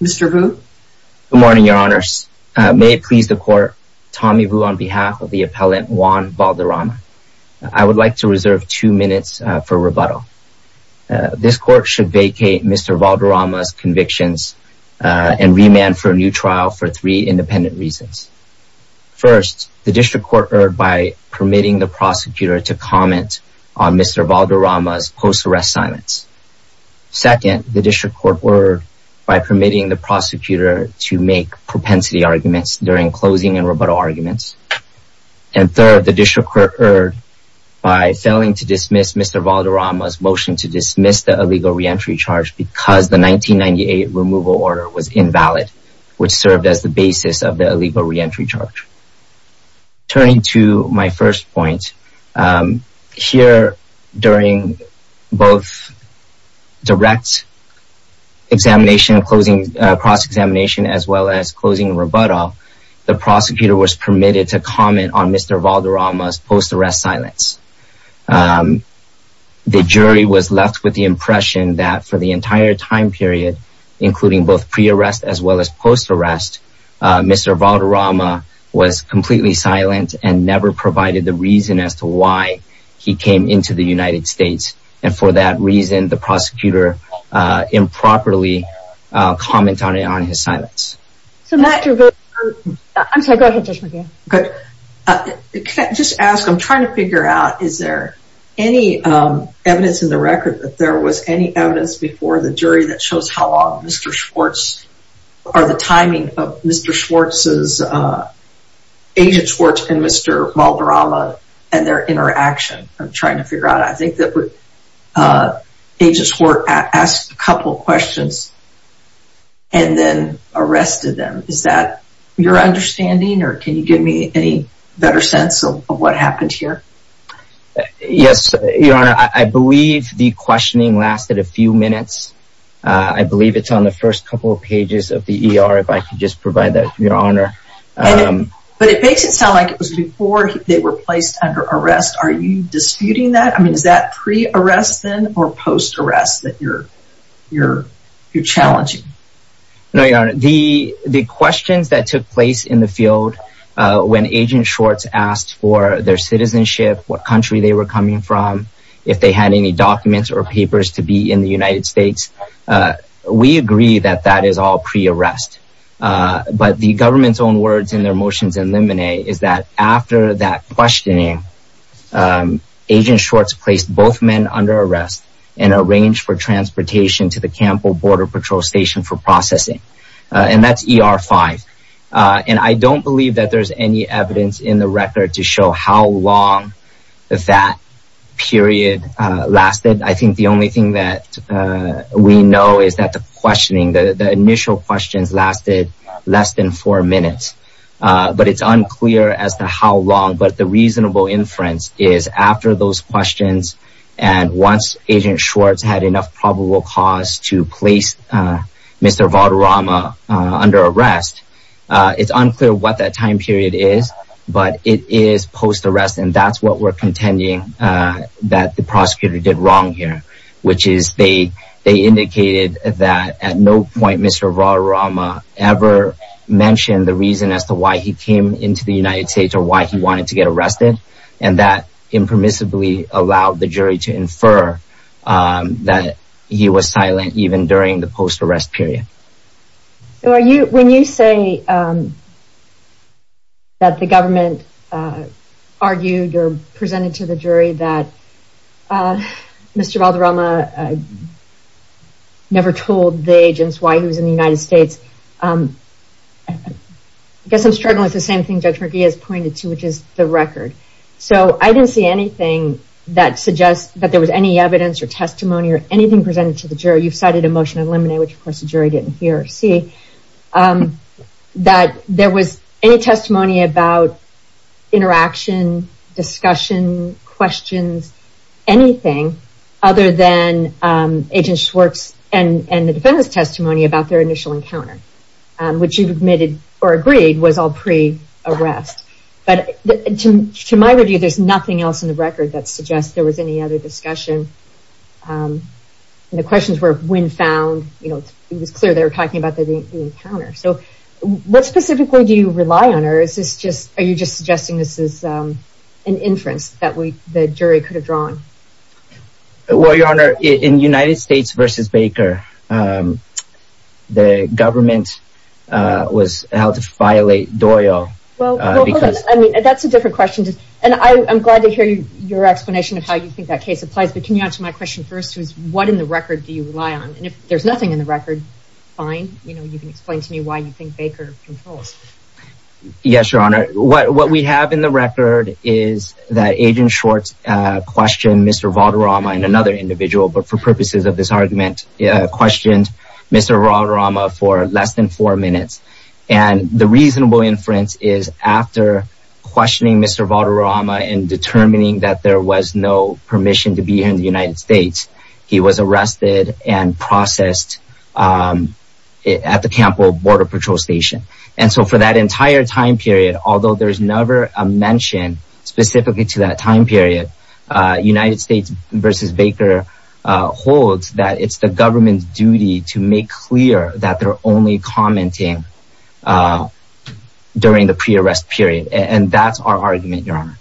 Mr. Vu Good morning, your honors. May it please the court, Tommy Vu on behalf of the appellant Juan Valderama. I would like to reserve two minutes for rebuttal. This court should vacate Mr. Valderama's convictions and remand for a new trial for three independent reasons. First, the district court erred by permitting the prosecutor to comment on Mr. Valderama's post-arrest silence. Second, the district court erred by permitting the prosecutor to make propensity arguments during closing and rebuttal arguments. And third, the district court erred by failing to dismiss Mr. Valderama's motion to dismiss the illegal reentry charge because the 1998 removal order was invalid, which served as the basis of the illegal reentry charge. Turning to my first point, here during both direct examination, closing cross-examination, as well as closing rebuttal, the prosecutor was permitted to comment on Mr. Valderama's post-arrest silence. The jury was left with the impression that for the entire time period, including both pre-arrest as well as post-arrest, Mr. Valderama was completely silent and never provided the reason as to why he came into the United States. And for that reason, the prosecutor improperly commented on his silence. I'm sorry, go ahead Judge McGeehan. Can I just ask, I'm trying to figure out, is there any evidence in the record that there was any evidence before the jury that shows how long Mr. Schwartz, or the timing of Mr. Schwartz's, Agent Schwartz and Mr. Valderama and their interaction? I'm trying to figure out. I think that Agent Schwartz asked a couple questions and then arrested them. Is that your understanding, or can you give me any better sense of what happened here? Yes, Your Honor, I believe the questioning lasted a few minutes. I believe it's on the first couple of pages of the ER, if I could just provide that, Your Honor. But it makes it sound like it was before they were placed under arrest. Are you disputing that? I mean, is that pre-arrest then, or post-arrest that you're challenging? No, Your Honor, the questions that took place in the field when Agent Schwartz asked for their citizenship, what country they were coming from, if they had any documents or papers to be in the United States, we agree that that is all pre-arrest. But the government's own words in their motions in limine is that after that questioning, Agent Schwartz placed both men under arrest and arranged for transportation to the Campbell Border Patrol Station for processing. And that's ER 5. And I don't believe that there's any evidence in the record to show how long that period lasted. I think the only thing that we know is that the questioning, the initial questions lasted less than four minutes. But it's unclear as to how long, but the reasonable inference is after those questions and once Agent Schwartz had enough probable cause to place Mr. Valderrama under arrest, it's unclear what that time period is, but it is post-arrest, and that's what we're contending that the prosecutor did wrong here, which is they indicated that at no point Mr. Valderrama ever mentioned the reason as to why he came into the United States or why he wanted to get arrested, and that impermissibly allowed the jury to infer that he was silent even during the post-arrest period. When you say that the government argued or presented to the jury that Mr. Valderrama never told the agents why he was in the United States, I guess I'm struggling with the same thing Judge McGee has pointed to, which is the record. So I didn't see anything that suggests that there was any evidence or testimony or anything presented to the jury. You've cited a motion to eliminate, which of course the jury didn't hear or see, that there was any testimony about interaction, discussion, questions, anything other than Agent Schwartz and the defendant's testimony about their initial encounter, which you've admitted or agreed was all pre-arrest. But to my review, there's nothing else in the record that suggests there was any other discussion. The questions were when found, it was clear they were talking about the encounter. So what specifically do you rely on, or are you just suggesting this is an inference that the jury could have drawn? Well, Your Honor, in United States v. Baker, the government was held to violate Doyle. Well, that's a different question, and I'm glad to hear your explanation of how you think that case applies, but can you answer my question first, which is what in the record do you rely on? And if there's nothing in the record, fine, you can explain to me why you think Baker controls. Yes, Your Honor. What we have in the record is that Agent Schwartz questioned Mr. Valderrama and another individual, but for purposes of this argument, questioned Mr. Valderrama for less than four minutes. And the reasonable inference is after questioning Mr. Valderrama and determining that there was no permission to be here in the United States, he was arrested and processed at the Campbell Border Patrol Station. And so for that entire time period, although there's never a mention specifically to that time period, United States v. Baker holds that it's the government's duty to make clear that they're only commenting during the pre-arrest period. And that's our argument, Your Honor.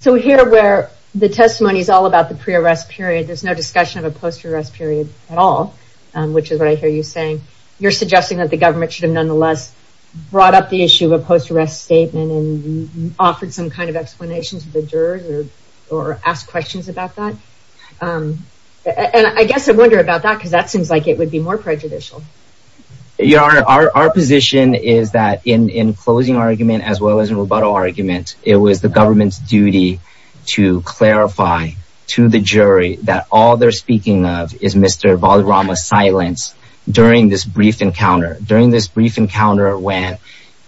So here where the testimony is all about the pre-arrest period, there's no discussion of a post-arrest period at all, which is what I hear you saying. You're suggesting that the government should have nonetheless brought up the issue of a post-arrest statement and offered some kind of explanation to the jurors or asked questions about that? And I guess I wonder about that because that seems like it would be more prejudicial. Your Honor, our position is that in closing argument as well as in rebuttal argument, it was the government's duty to clarify to the jury that all they're speaking of is Mr. Valderrama's silence during this brief encounter. During this brief encounter when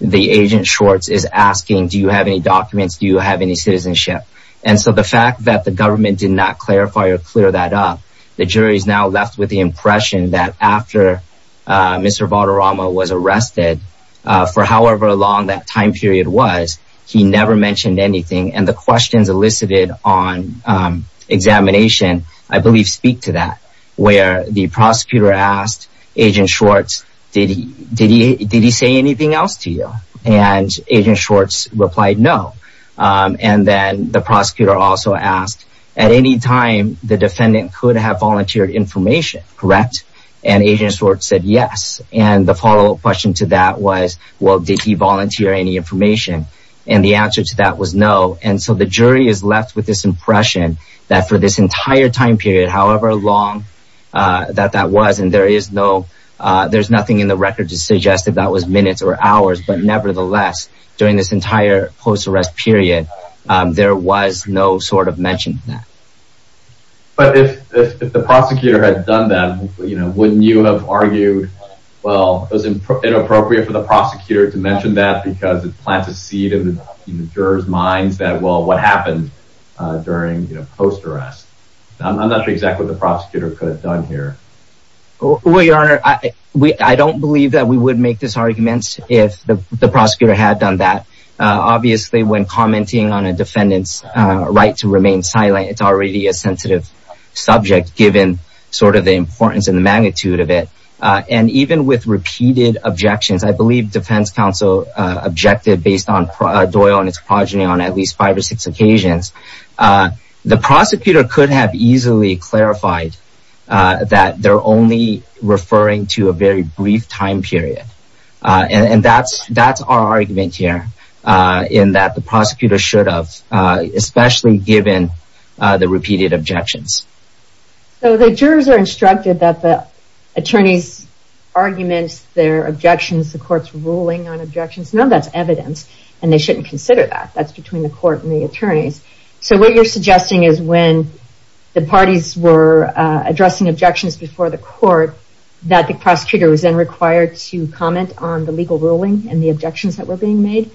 the agent Schwartz is asking, do you have any documents? Do you have any citizenship? And so the fact that the government did not clarify or clear that up, the jury is now left with the impression that after Mr. Valderrama was arrested, for however long that time period was, he never mentioned anything. And the questions elicited on examination, I believe, speak to that, where the prosecutor asked Agent Schwartz, did he say anything else to you? And Agent Schwartz replied no. And then the prosecutor also asked, at any time the defendant could have volunteered information, correct? And Agent Schwartz said yes. And the follow-up question to that was, well, did he volunteer any information? And the answer to that was no. And so the jury is left with this impression that for this entire time period, however long that that was, and there is no, there's nothing in the record to suggest that that was minutes or hours, but nevertheless, during this entire post-arrest period, there was no sort of mention of that. But if the prosecutor had done that, wouldn't you have argued, well, it was inappropriate for the prosecutor to mention that because it plants a seed in the jurors' minds that, well, what happened during post-arrest? I'm not sure exactly what the prosecutor could have done here. Well, Your Honor, I don't believe that we would make these arguments if the prosecutor had done that. Obviously, when commenting on a defendant's right to remain silent, it's already a sensitive subject given sort of the importance and the magnitude of it. And even with repeated objections, I believe defense counsel objected based on Doyle and his progeny on at least five or six occasions. The prosecutor could have easily clarified that they're only referring to a very brief time period. And that's our argument here, in that the prosecutor should have, especially given the repeated objections. So the jurors are instructed that the attorneys' arguments, their objections, the court's ruling on objections, none of that's evidence, and they shouldn't consider that. That's between the court and the attorneys. So what you're suggesting is when the parties were addressing objections before the court, that the prosecutor was then required to comment on the legal ruling and the objections that were being made?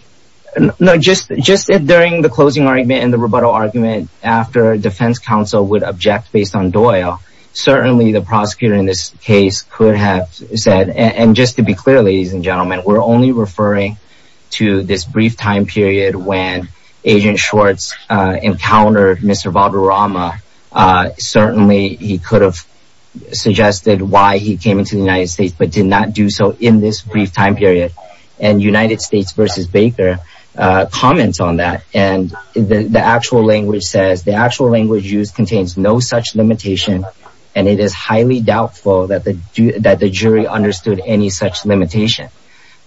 No, just during the closing argument and the rebuttal argument, after defense counsel would object based on Doyle, certainly the prosecutor in this case could have said, and just to be clear, ladies and gentlemen, we're only referring to this brief time period when Agent Schwartz encountered Mr. Valderrama. Certainly he could have suggested why he came into the United States, but did not do so in this brief time period. And United States v. Baker comments on that, and the actual language says, and it is highly doubtful that the jury understood any such limitation.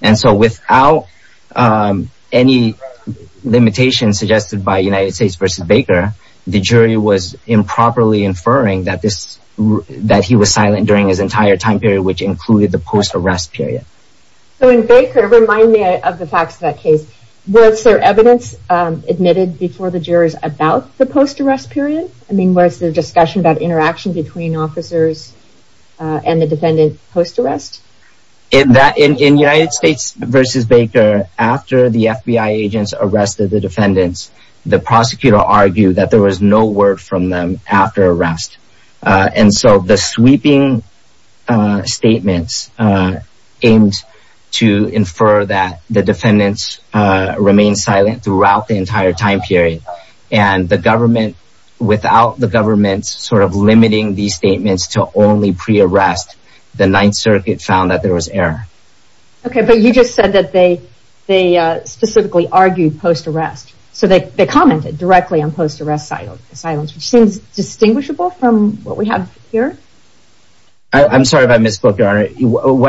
And so without any limitations suggested by United States v. Baker, the jury was improperly inferring that he was silent during his entire time period, which included the post-arrest period. So in Baker, remind me of the facts of that case. Was there evidence admitted before the jurors about the post-arrest period? I mean, was there discussion about interaction between officers and the defendant post-arrest? In United States v. Baker, after the FBI agents arrested the defendants, the prosecutor argued that there was no word from them after arrest. And so the sweeping statements aimed to infer that the defendants remained silent throughout the entire time period. And the government, without the government sort of limiting these statements to only pre-arrest, the Ninth Circuit found that there was error. Okay, but you just said that they specifically argued post-arrest. So they commented directly on post-arrest silence, which seems distinguishable from what we have here. What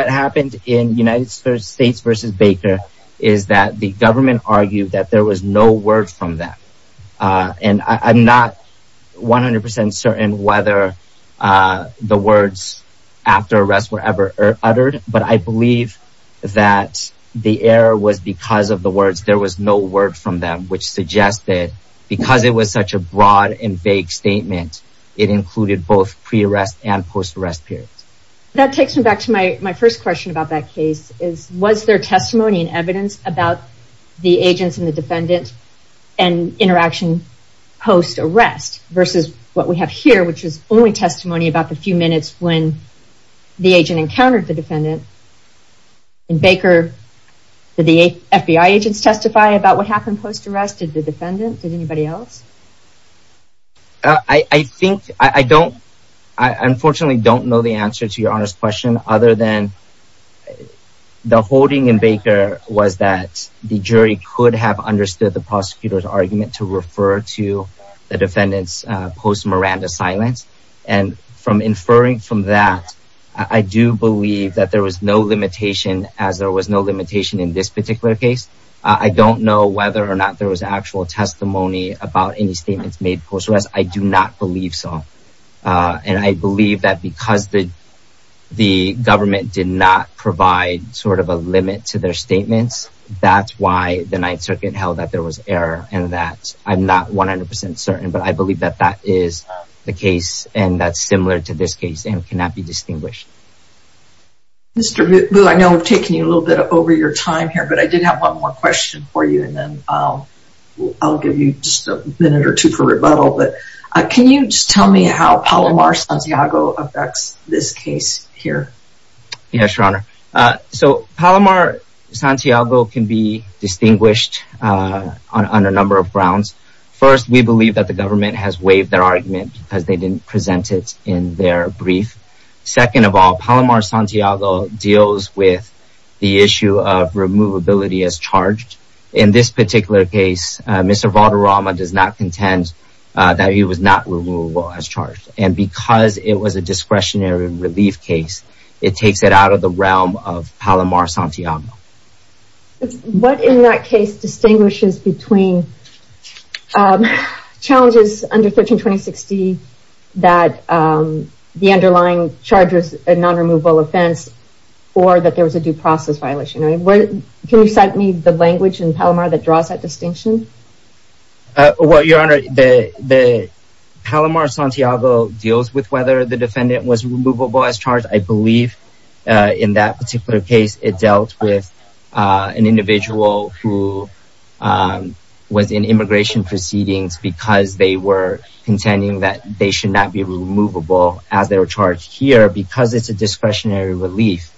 happened in United States v. Baker is that the government argued that there was no word from them. And I'm not 100% certain whether the words after arrest were ever uttered, but I believe that the error was because of the words there was no word from them, which suggested because it was such a broad and vague statement, it included both pre-arrest and post-arrest periods. That takes me back to my first question about that case. Was there testimony and evidence about the agents and the defendant and interaction post-arrest versus what we have here, which is only testimony about the few minutes when the agent encountered the defendant? In Baker, did the FBI agents testify about what happened post-arrest? Did the defendant? Did anybody else? I think, I don't, I unfortunately don't know the answer to your honest question other than the holding in Baker was that the jury could have understood the prosecutor's argument to refer to the defendant's post-Miranda silence. And from inferring from that, I do believe that there was no limitation as there was no limitation in this particular case. I don't know whether or not there was actual testimony about any statements made post-arrest. I do not believe so. And I believe that because the government did not provide sort of a limit to their statements, that's why the Ninth Circuit held that there was error and that I'm not 100% certain, but I believe that that is the case and that's similar to this case and cannot be distinguished. Mr. Vu, I know I've taken you a little bit over your time here, but I did have one more question for you and then I'll give you just a minute or two for rebuttal. But can you just tell me how Palomar Santiago affects this case here? Yes, Your Honor. So, Palomar Santiago can be distinguished on a number of grounds. First, we believe that the government has waived their argument because they didn't present it in their brief. Second of all, Palomar Santiago deals with the issue of removability as charged. In this particular case, Mr. Valderrama does not contend that he was not removable as charged. And because it was a discretionary relief case, it takes it out of the realm of Palomar Santiago. What in that case distinguishes between challenges under 132060 that the underlying charge is a non-removable offense or that there was a due process violation? Can you cite me the language in Palomar that draws that distinction? Well, Your Honor, Palomar Santiago deals with whether the defendant was removable as charged. I believe in that particular case, it dealt with an individual who was in immigration proceedings because they were contending that they should not be removable as they were charged here. Because it's a discretionary relief,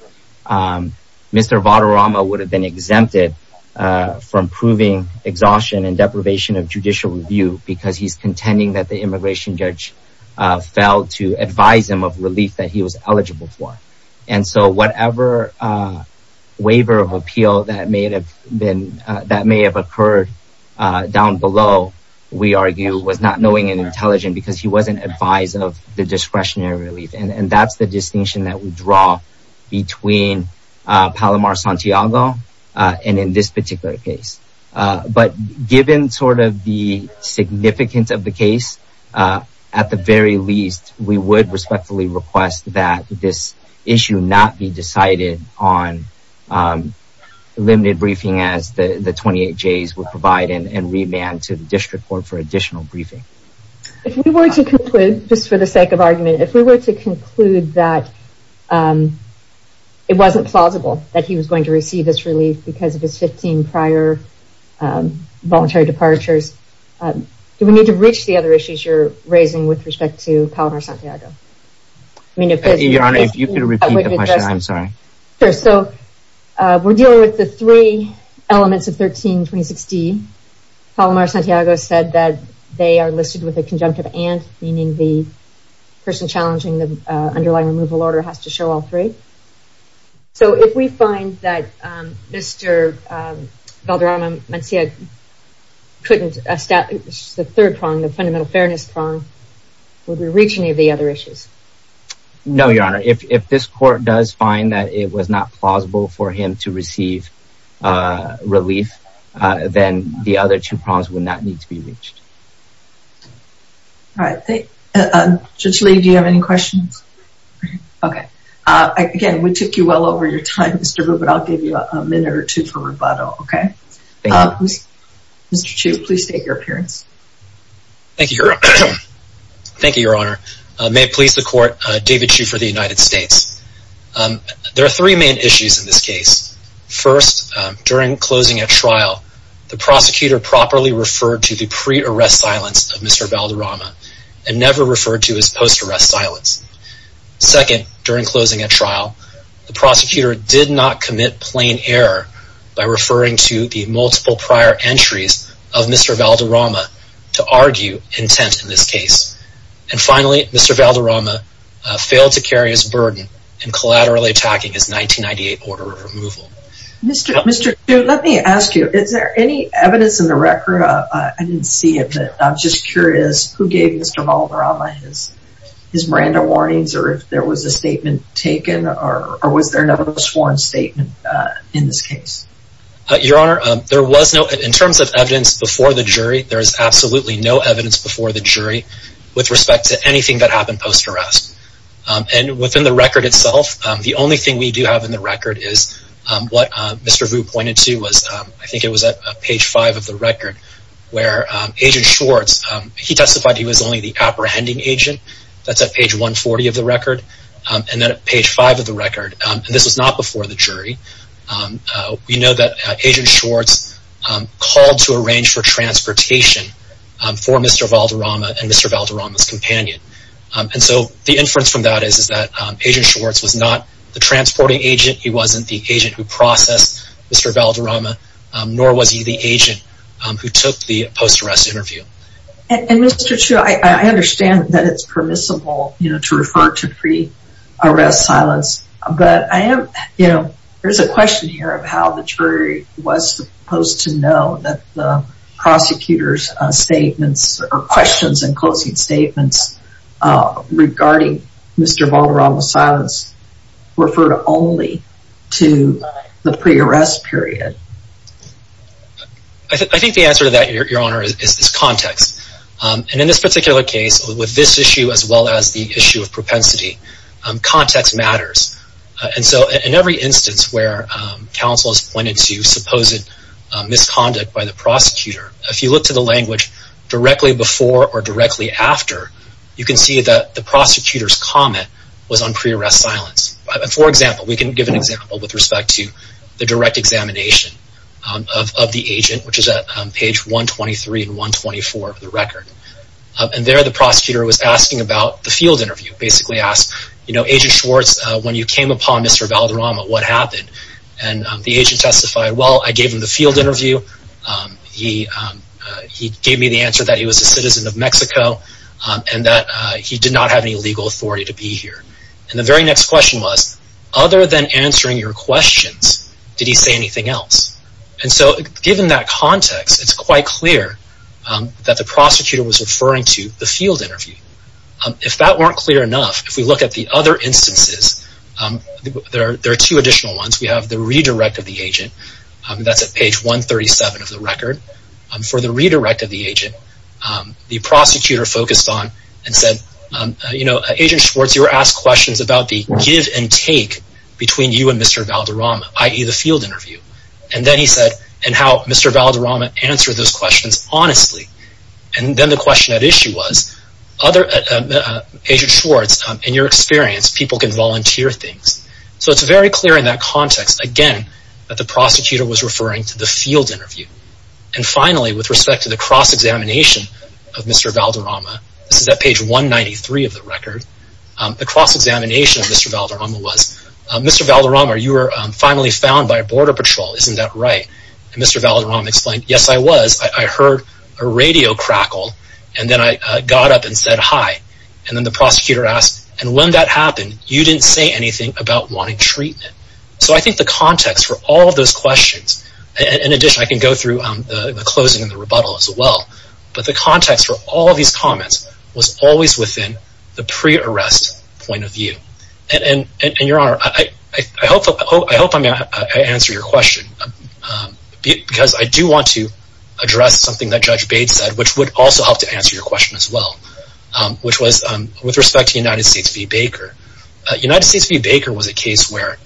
Mr. Valderrama would have been exempted from proving exhaustion and deprivation of judicial review because he's contending that the immigration judge failed to advise him of relief that he was eligible for. And so whatever waiver of appeal that may have occurred down below, we argue, was not knowing and intelligent because he wasn't advised of the discretionary relief. And that's the distinction that we draw between Palomar Santiago and in this particular case. But given sort of the significance of the case, at the very least, we would respectfully request that this issue not be decided on limited briefing as the 28Js would provide and remand to the district court for additional briefing. If we were to conclude, just for the sake of argument, if we were to conclude that it wasn't plausible that he was going to receive this relief because of his 15 prior voluntary departures, do we need to reach the other issues you're raising with respect to Palomar Santiago? Your Honor, if you could repeat the question, I'm sorry. Sure. So we're dealing with the three elements of 13-2016. Palomar Santiago said that they are listed with a conjunctive and, meaning the person challenging the underlying removal order has to show all three. So if we find that Mr. Valderrama Mancilla couldn't establish the third prong, the fundamental fairness prong, would we reach any of the other issues? No, Your Honor. If this court does find that it was not plausible for him to receive relief, then the other two prongs would not need to be reached. All right. Judge Lee, do you have any questions? Okay. Again, we took you well over your time, Mr. Rubin. I'll give you a minute or two for rebuttal, okay? Thank you. Mr. Chu, please state your appearance. Thank you, Your Honor. May it please the court, David Chu for the United States. There are three main issues in this case. First, during closing a trial, the prosecutor properly referred to the pre-arrest silence of Mr. Valderrama and never referred to his post-arrest silence. Second, during closing a trial, the prosecutor did not commit plain error by referring to the multiple prior entries of Mr. Valderrama to argue intent in this case. And finally, Mr. Valderrama failed to carry his burden in collaterally attacking his 1998 order of removal. Mr. Chu, let me ask you, is there any evidence in the record? Your Honor, I didn't see it, but I'm just curious, who gave Mr. Valderrama his Miranda warnings, or if there was a statement taken, or was there no sworn statement in this case? Your Honor, there was no, in terms of evidence before the jury, there is absolutely no evidence before the jury with respect to anything that happened post-arrest. And within the record itself, the only thing we do have in the record is what Mr. Vu pointed to was, I think it was at page 5 of the record, where Agent Schwartz, he testified he was only the apprehending agent. That's at page 140 of the record, and then at page 5 of the record. And this was not before the jury. We know that Agent Schwartz called to arrange for transportation for Mr. Valderrama and Mr. Valderrama's companion. And so the inference from that is that Agent Schwartz was not the transporting agent, he wasn't the agent who processed Mr. Valderrama, nor was he the agent who took the post-arrest interview. And Mr. Chiu, I understand that it's permissible to refer to pre-arrest silence, but there's a question here of how the jury was supposed to know that the prosecutor's statements, or questions and closing statements regarding Mr. Valderrama's silence refer only to the pre-arrest period. I think the answer to that, Your Honor, is this context. And in this particular case, with this issue as well as the issue of propensity, context matters. And so in every instance where counsel has pointed to supposed misconduct by the prosecutor, if you look to the language directly before or directly after, you can see that the prosecutor's comment was on pre-arrest silence. For example, we can give an example with respect to the direct examination of the agent, which is at page 123 and 124 of the record. And there the prosecutor was asking about the field interview. Basically asked, you know, Agent Schwartz, when you came upon Mr. Valderrama, what happened? And the agent testified, well, I gave him the field interview. He gave me the answer that he was a citizen of Mexico and that he did not have any legal authority to be here. And the very next question was, other than answering your questions, did he say anything else? And so given that context, it's quite clear that the prosecutor was referring to the field interview. If that weren't clear enough, if we look at the other instances, there are two additional ones. We have the redirect of the agent. That's at page 137 of the record. For the redirect of the agent, the prosecutor focused on and said, you know, Agent Schwartz, you were asked questions about the give and take between you and Mr. Valderrama, i.e., the field interview. And then he said, and how Mr. Valderrama answered those questions honestly. And then the question at issue was, Agent Schwartz, in your experience, people can volunteer things. So it's very clear in that context, again, that the prosecutor was referring to the field interview. And finally, with respect to the cross-examination of Mr. Valderrama, this is at page 193 of the record, the cross-examination of Mr. Valderrama was, Mr. Valderrama, you were finally found by a border patrol. Isn't that right? And Mr. Valderrama explained, yes, I was. I heard a radio crackle, and then I got up and said hi. And then the prosecutor asked, and when that happened, you didn't say anything about wanting treatment. So I think the context for all of those questions, and in addition, I can go through the closing and the rebuttal as well, but the context for all of these comments was always within the pre-arrest point of view. And, Your Honor, I hope I answered your question, because I do want to address something that Judge Bates said, which would also help to answer your question as well, which was with respect to United States v. Baker. United States v. Baker was a case where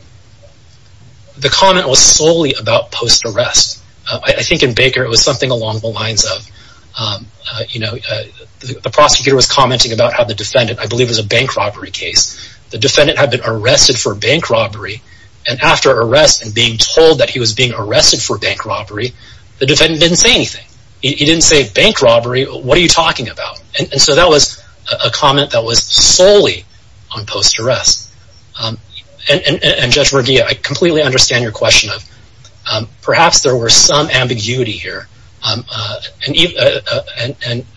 the comment was solely about post-arrest. I think in Baker it was something along the lines of the prosecutor was commenting about how the defendant, I believe it was a bank robbery case, the defendant had been arrested for bank robbery, and after arrest and being told that he was being arrested for bank robbery, the defendant didn't say anything. He didn't say bank robbery, what are you talking about? And so that was a comment that was solely on post-arrest. And, Judge Merguia, I completely understand your question of perhaps there were some ambiguity here. And,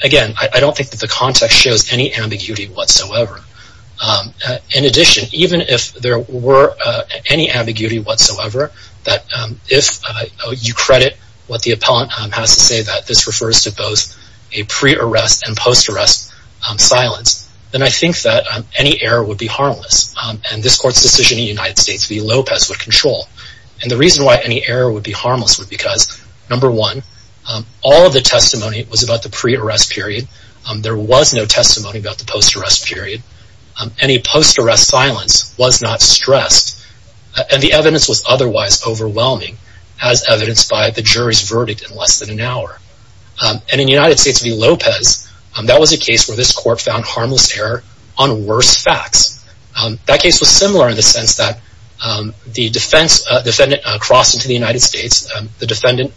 again, I don't think that the context shows any ambiguity whatsoever. In addition, even if there were any ambiguity whatsoever, that if you credit what the appellant has to say, that this refers to both a pre-arrest and post-arrest silence, then I think that any error would be harmless. And this Court's decision in the United States v. Lopez would control. And the reason why any error would be harmless would be because, number one, all of the testimony was about the pre-arrest period. There was no testimony about the post-arrest period. Any post-arrest silence was not stressed. And the evidence was otherwise overwhelming, as evidenced by the jury's verdict in less than an hour. And in the United States v. Lopez, that was a case where this Court found harmless error on worse facts. That case was similar in the sense that the defendant crossed into the United States. The defendant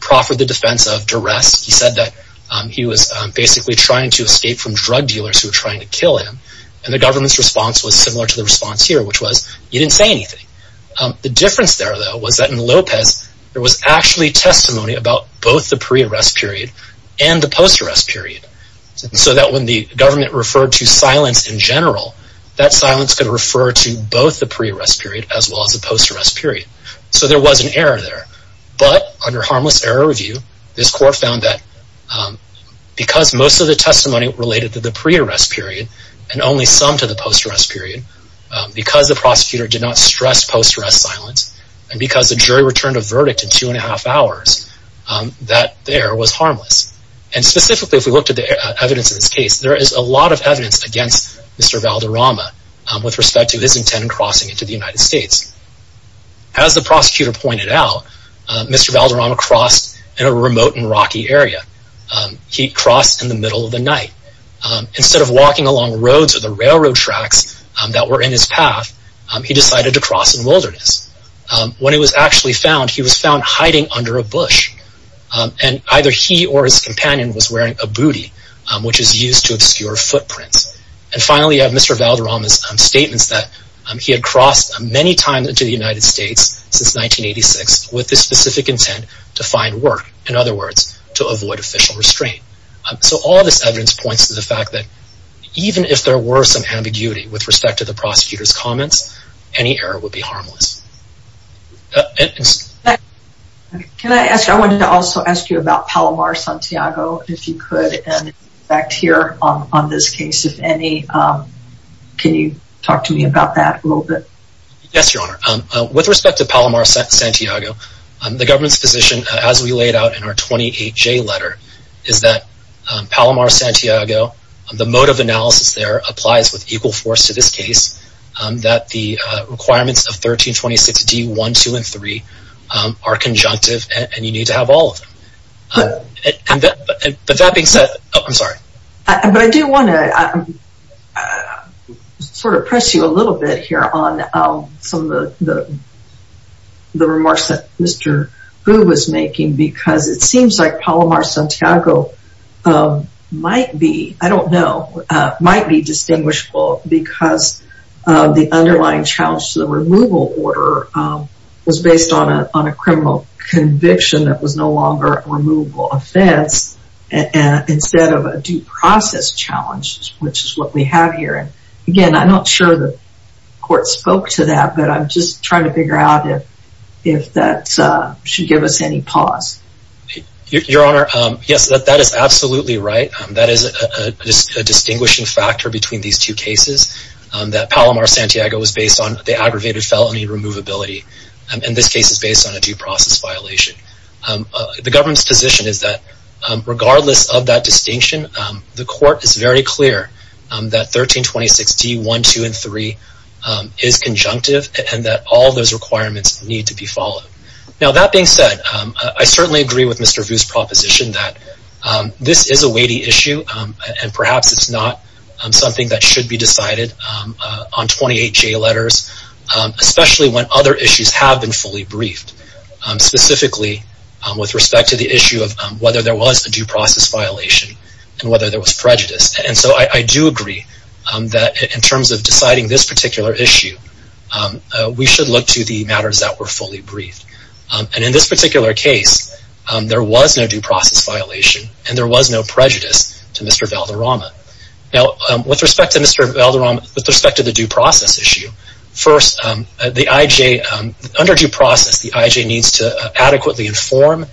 proffered the defense of duress. He said that he was basically trying to escape from drug dealers who were trying to kill him. And the government's response was similar to the response here, which was, you didn't say anything. The difference there, though, was that in Lopez, there was actually testimony about both the pre-arrest period and the post-arrest period. So that when the government referred to silence in general, that silence could refer to both the pre-arrest period as well as the post-arrest period. So there was an error there. But under harmless error review, this Court found that because most of the testimony related to the pre-arrest period, and only some to the post-arrest period, because the prosecutor did not stress post-arrest silence, and because the jury returned a verdict in two and a half hours, that the error was harmless. And specifically, if we looked at the evidence in this case, there is a lot of evidence against Mr. Valderrama with respect to his intent in crossing into the United States. As the prosecutor pointed out, Mr. Valderrama crossed in a remote and rocky area. He crossed in the middle of the night. Instead of walking along roads or the railroad tracks that were in his path, he decided to cross in the wilderness. When he was actually found, he was found hiding under a bush. And either he or his companion was wearing a bootie, which is used to obscure footprints. And finally, you have Mr. Valderrama's statements that he had crossed many times into the United States since 1986 with the specific intent to find work. In other words, to avoid official restraint. So all of this evidence points to the fact that even if there were some ambiguity with respect to the prosecutor's comments, any error would be harmless. Can I ask, I wanted to also ask you about Palomar-Santiago, if you could. And in fact, here on this case, if any, can you talk to me about that a little bit? Yes, Your Honor. With respect to Palomar-Santiago, the government's position, as we laid out in our 28J letter, is that Palomar-Santiago, the mode of analysis there, applies with equal force to this case. That the requirements of 1326D1, 2, and 3 are conjunctive, and you need to have all of them. But that being said, I'm sorry. But I do want to sort of press you a little bit here on some of the remarks that Mr. Gu was making. Because it seems like Palomar-Santiago might be, I don't know, might be distinguishable. Because the underlying challenge to the removal order was based on a criminal conviction that was no longer a removable offense, instead of a due process challenge, which is what we have here. Again, I'm not sure the court spoke to that, but I'm just trying to figure out if that should give us any pause. Your Honor, yes, that is absolutely right. That is a distinguishing factor between these two cases. That Palomar-Santiago was based on the aggravated felony removability, and this case is based on a due process violation. The government's position is that regardless of that distinction, the court is very clear that 1326D1, 2, and 3 is conjunctive, and that all those requirements need to be followed. Now, that being said, I certainly agree with Mr. Vu's proposition that this is a weighty issue, and perhaps it's not something that should be decided on 28J letters, especially when other issues have been fully briefed, specifically with respect to the issue of whether there was a due process violation and whether there was prejudice. And so I do agree that in terms of deciding this particular issue, we should look to the matters that were fully briefed. And in this particular case, there was no due process violation and there was no prejudice to Mr. Valderrama. Now, with respect to the due process issue, first, under due process, the IJ needs to adequately inform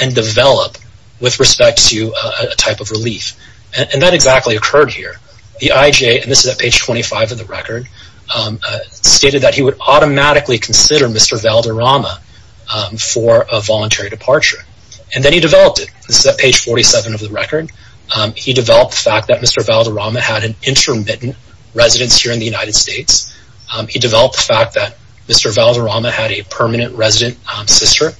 and develop with respect to a type of relief. And that exactly occurred here. The IJ, and this is at page 25 of the record, stated that he would automatically consider Mr. Valderrama for a voluntary departure. And then he developed it. This is at page 47 of the record. He developed the fact that Mr. Valderrama had an intermittent residence here in the United States. He developed the fact that Mr. Valderrama had a permanent resident sister.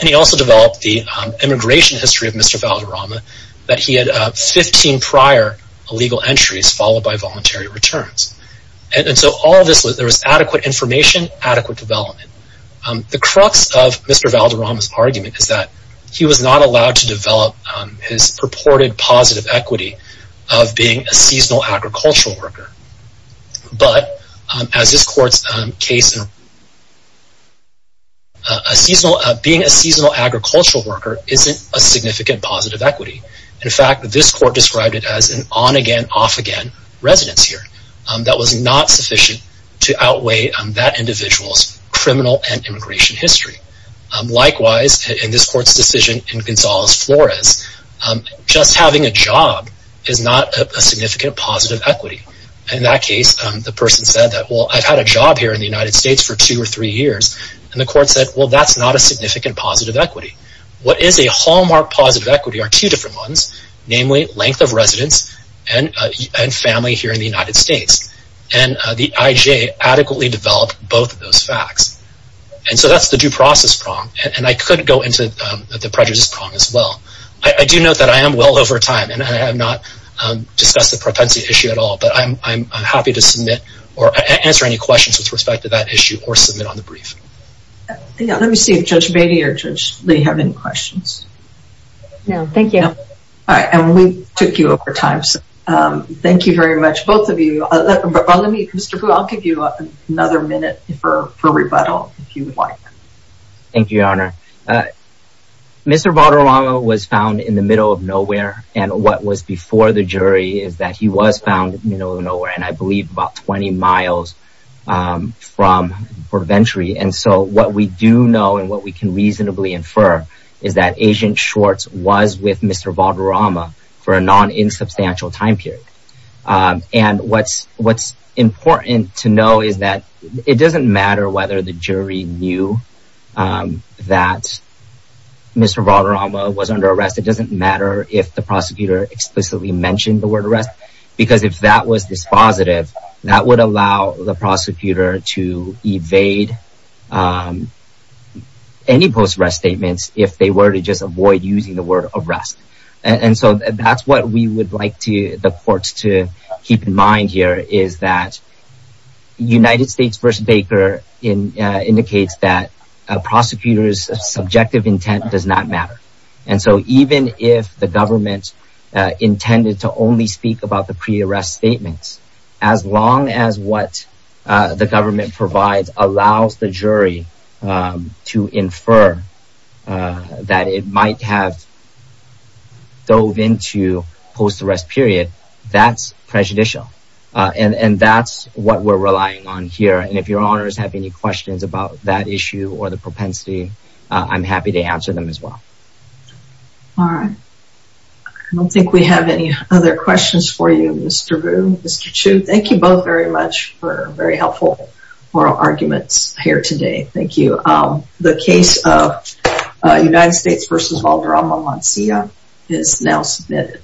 And he also developed the immigration history of Mr. Valderrama, that he had 15 prior illegal entries followed by voluntary returns. And so there was adequate information, adequate development. The crux of Mr. Valderrama's argument is that he was not allowed to develop his purported positive equity of being a seasonal agricultural worker. But as this court's case... Being a seasonal agricultural worker isn't a significant positive equity. In fact, this court described it as an on-again, off-again residence here. That was not sufficient to outweigh that individual's criminal and immigration history. Likewise, in this court's decision in Gonzales-Flores, just having a job is not a significant positive equity. In that case, the person said that, well, I've had a job here in the United States for two or three years. And the court said, well, that's not a significant positive equity. What is a hallmark positive equity are two different ones, namely length of residence and family here in the United States. And the IJ adequately developed both of those facts. And so that's the due process prong. And I could go into the prejudice prong as well. I do note that I am well over time, and I have not discussed the propensity issue at all. But I'm happy to submit or answer any questions with respect to that issue or submit on the brief. Let me see if Judge Beatty or Judge Lee have any questions. No, thank you. All right. And we took you over time. Thank you very much, both of you. Mr. Fu, I'll give you another minute for rebuttal, if you would like. Thank you, Your Honor. Mr. Valderrama was found in the middle of nowhere. And what was before the jury is that he was found in the middle of nowhere, and I believe about 20 miles from Port of Entry. And so what we do know and what we can reasonably infer is that Agent Schwartz was with Mr. Valderrama for a non-insubstantial time period. And what's important to know is that it doesn't matter whether the jury knew that Mr. Valderrama was under arrest. It doesn't matter if the prosecutor explicitly mentioned the word arrest. Because if that was dispositive, that would allow the prosecutor to evade any post-arrest statements if they were to just avoid using the word arrest. And so that's what we would like the courts to keep in mind here is that United States v. Baker indicates that a prosecutor's subjective intent does not matter. And so even if the government intended to only speak about the pre-arrest statements, as long as what the government provides allows the jury to infer that it might have dove into post-arrest period, that's prejudicial. And that's what we're relying on here. And if your honors have any questions about that issue or the propensity, I'm happy to answer them as well. All right. I don't think we have any other questions for you, Mr. Vu, Mr. Chu. Thank you both very much for very helpful oral arguments here today. Thank you. The case of United States v. Valderrama-Mancia is now submitted.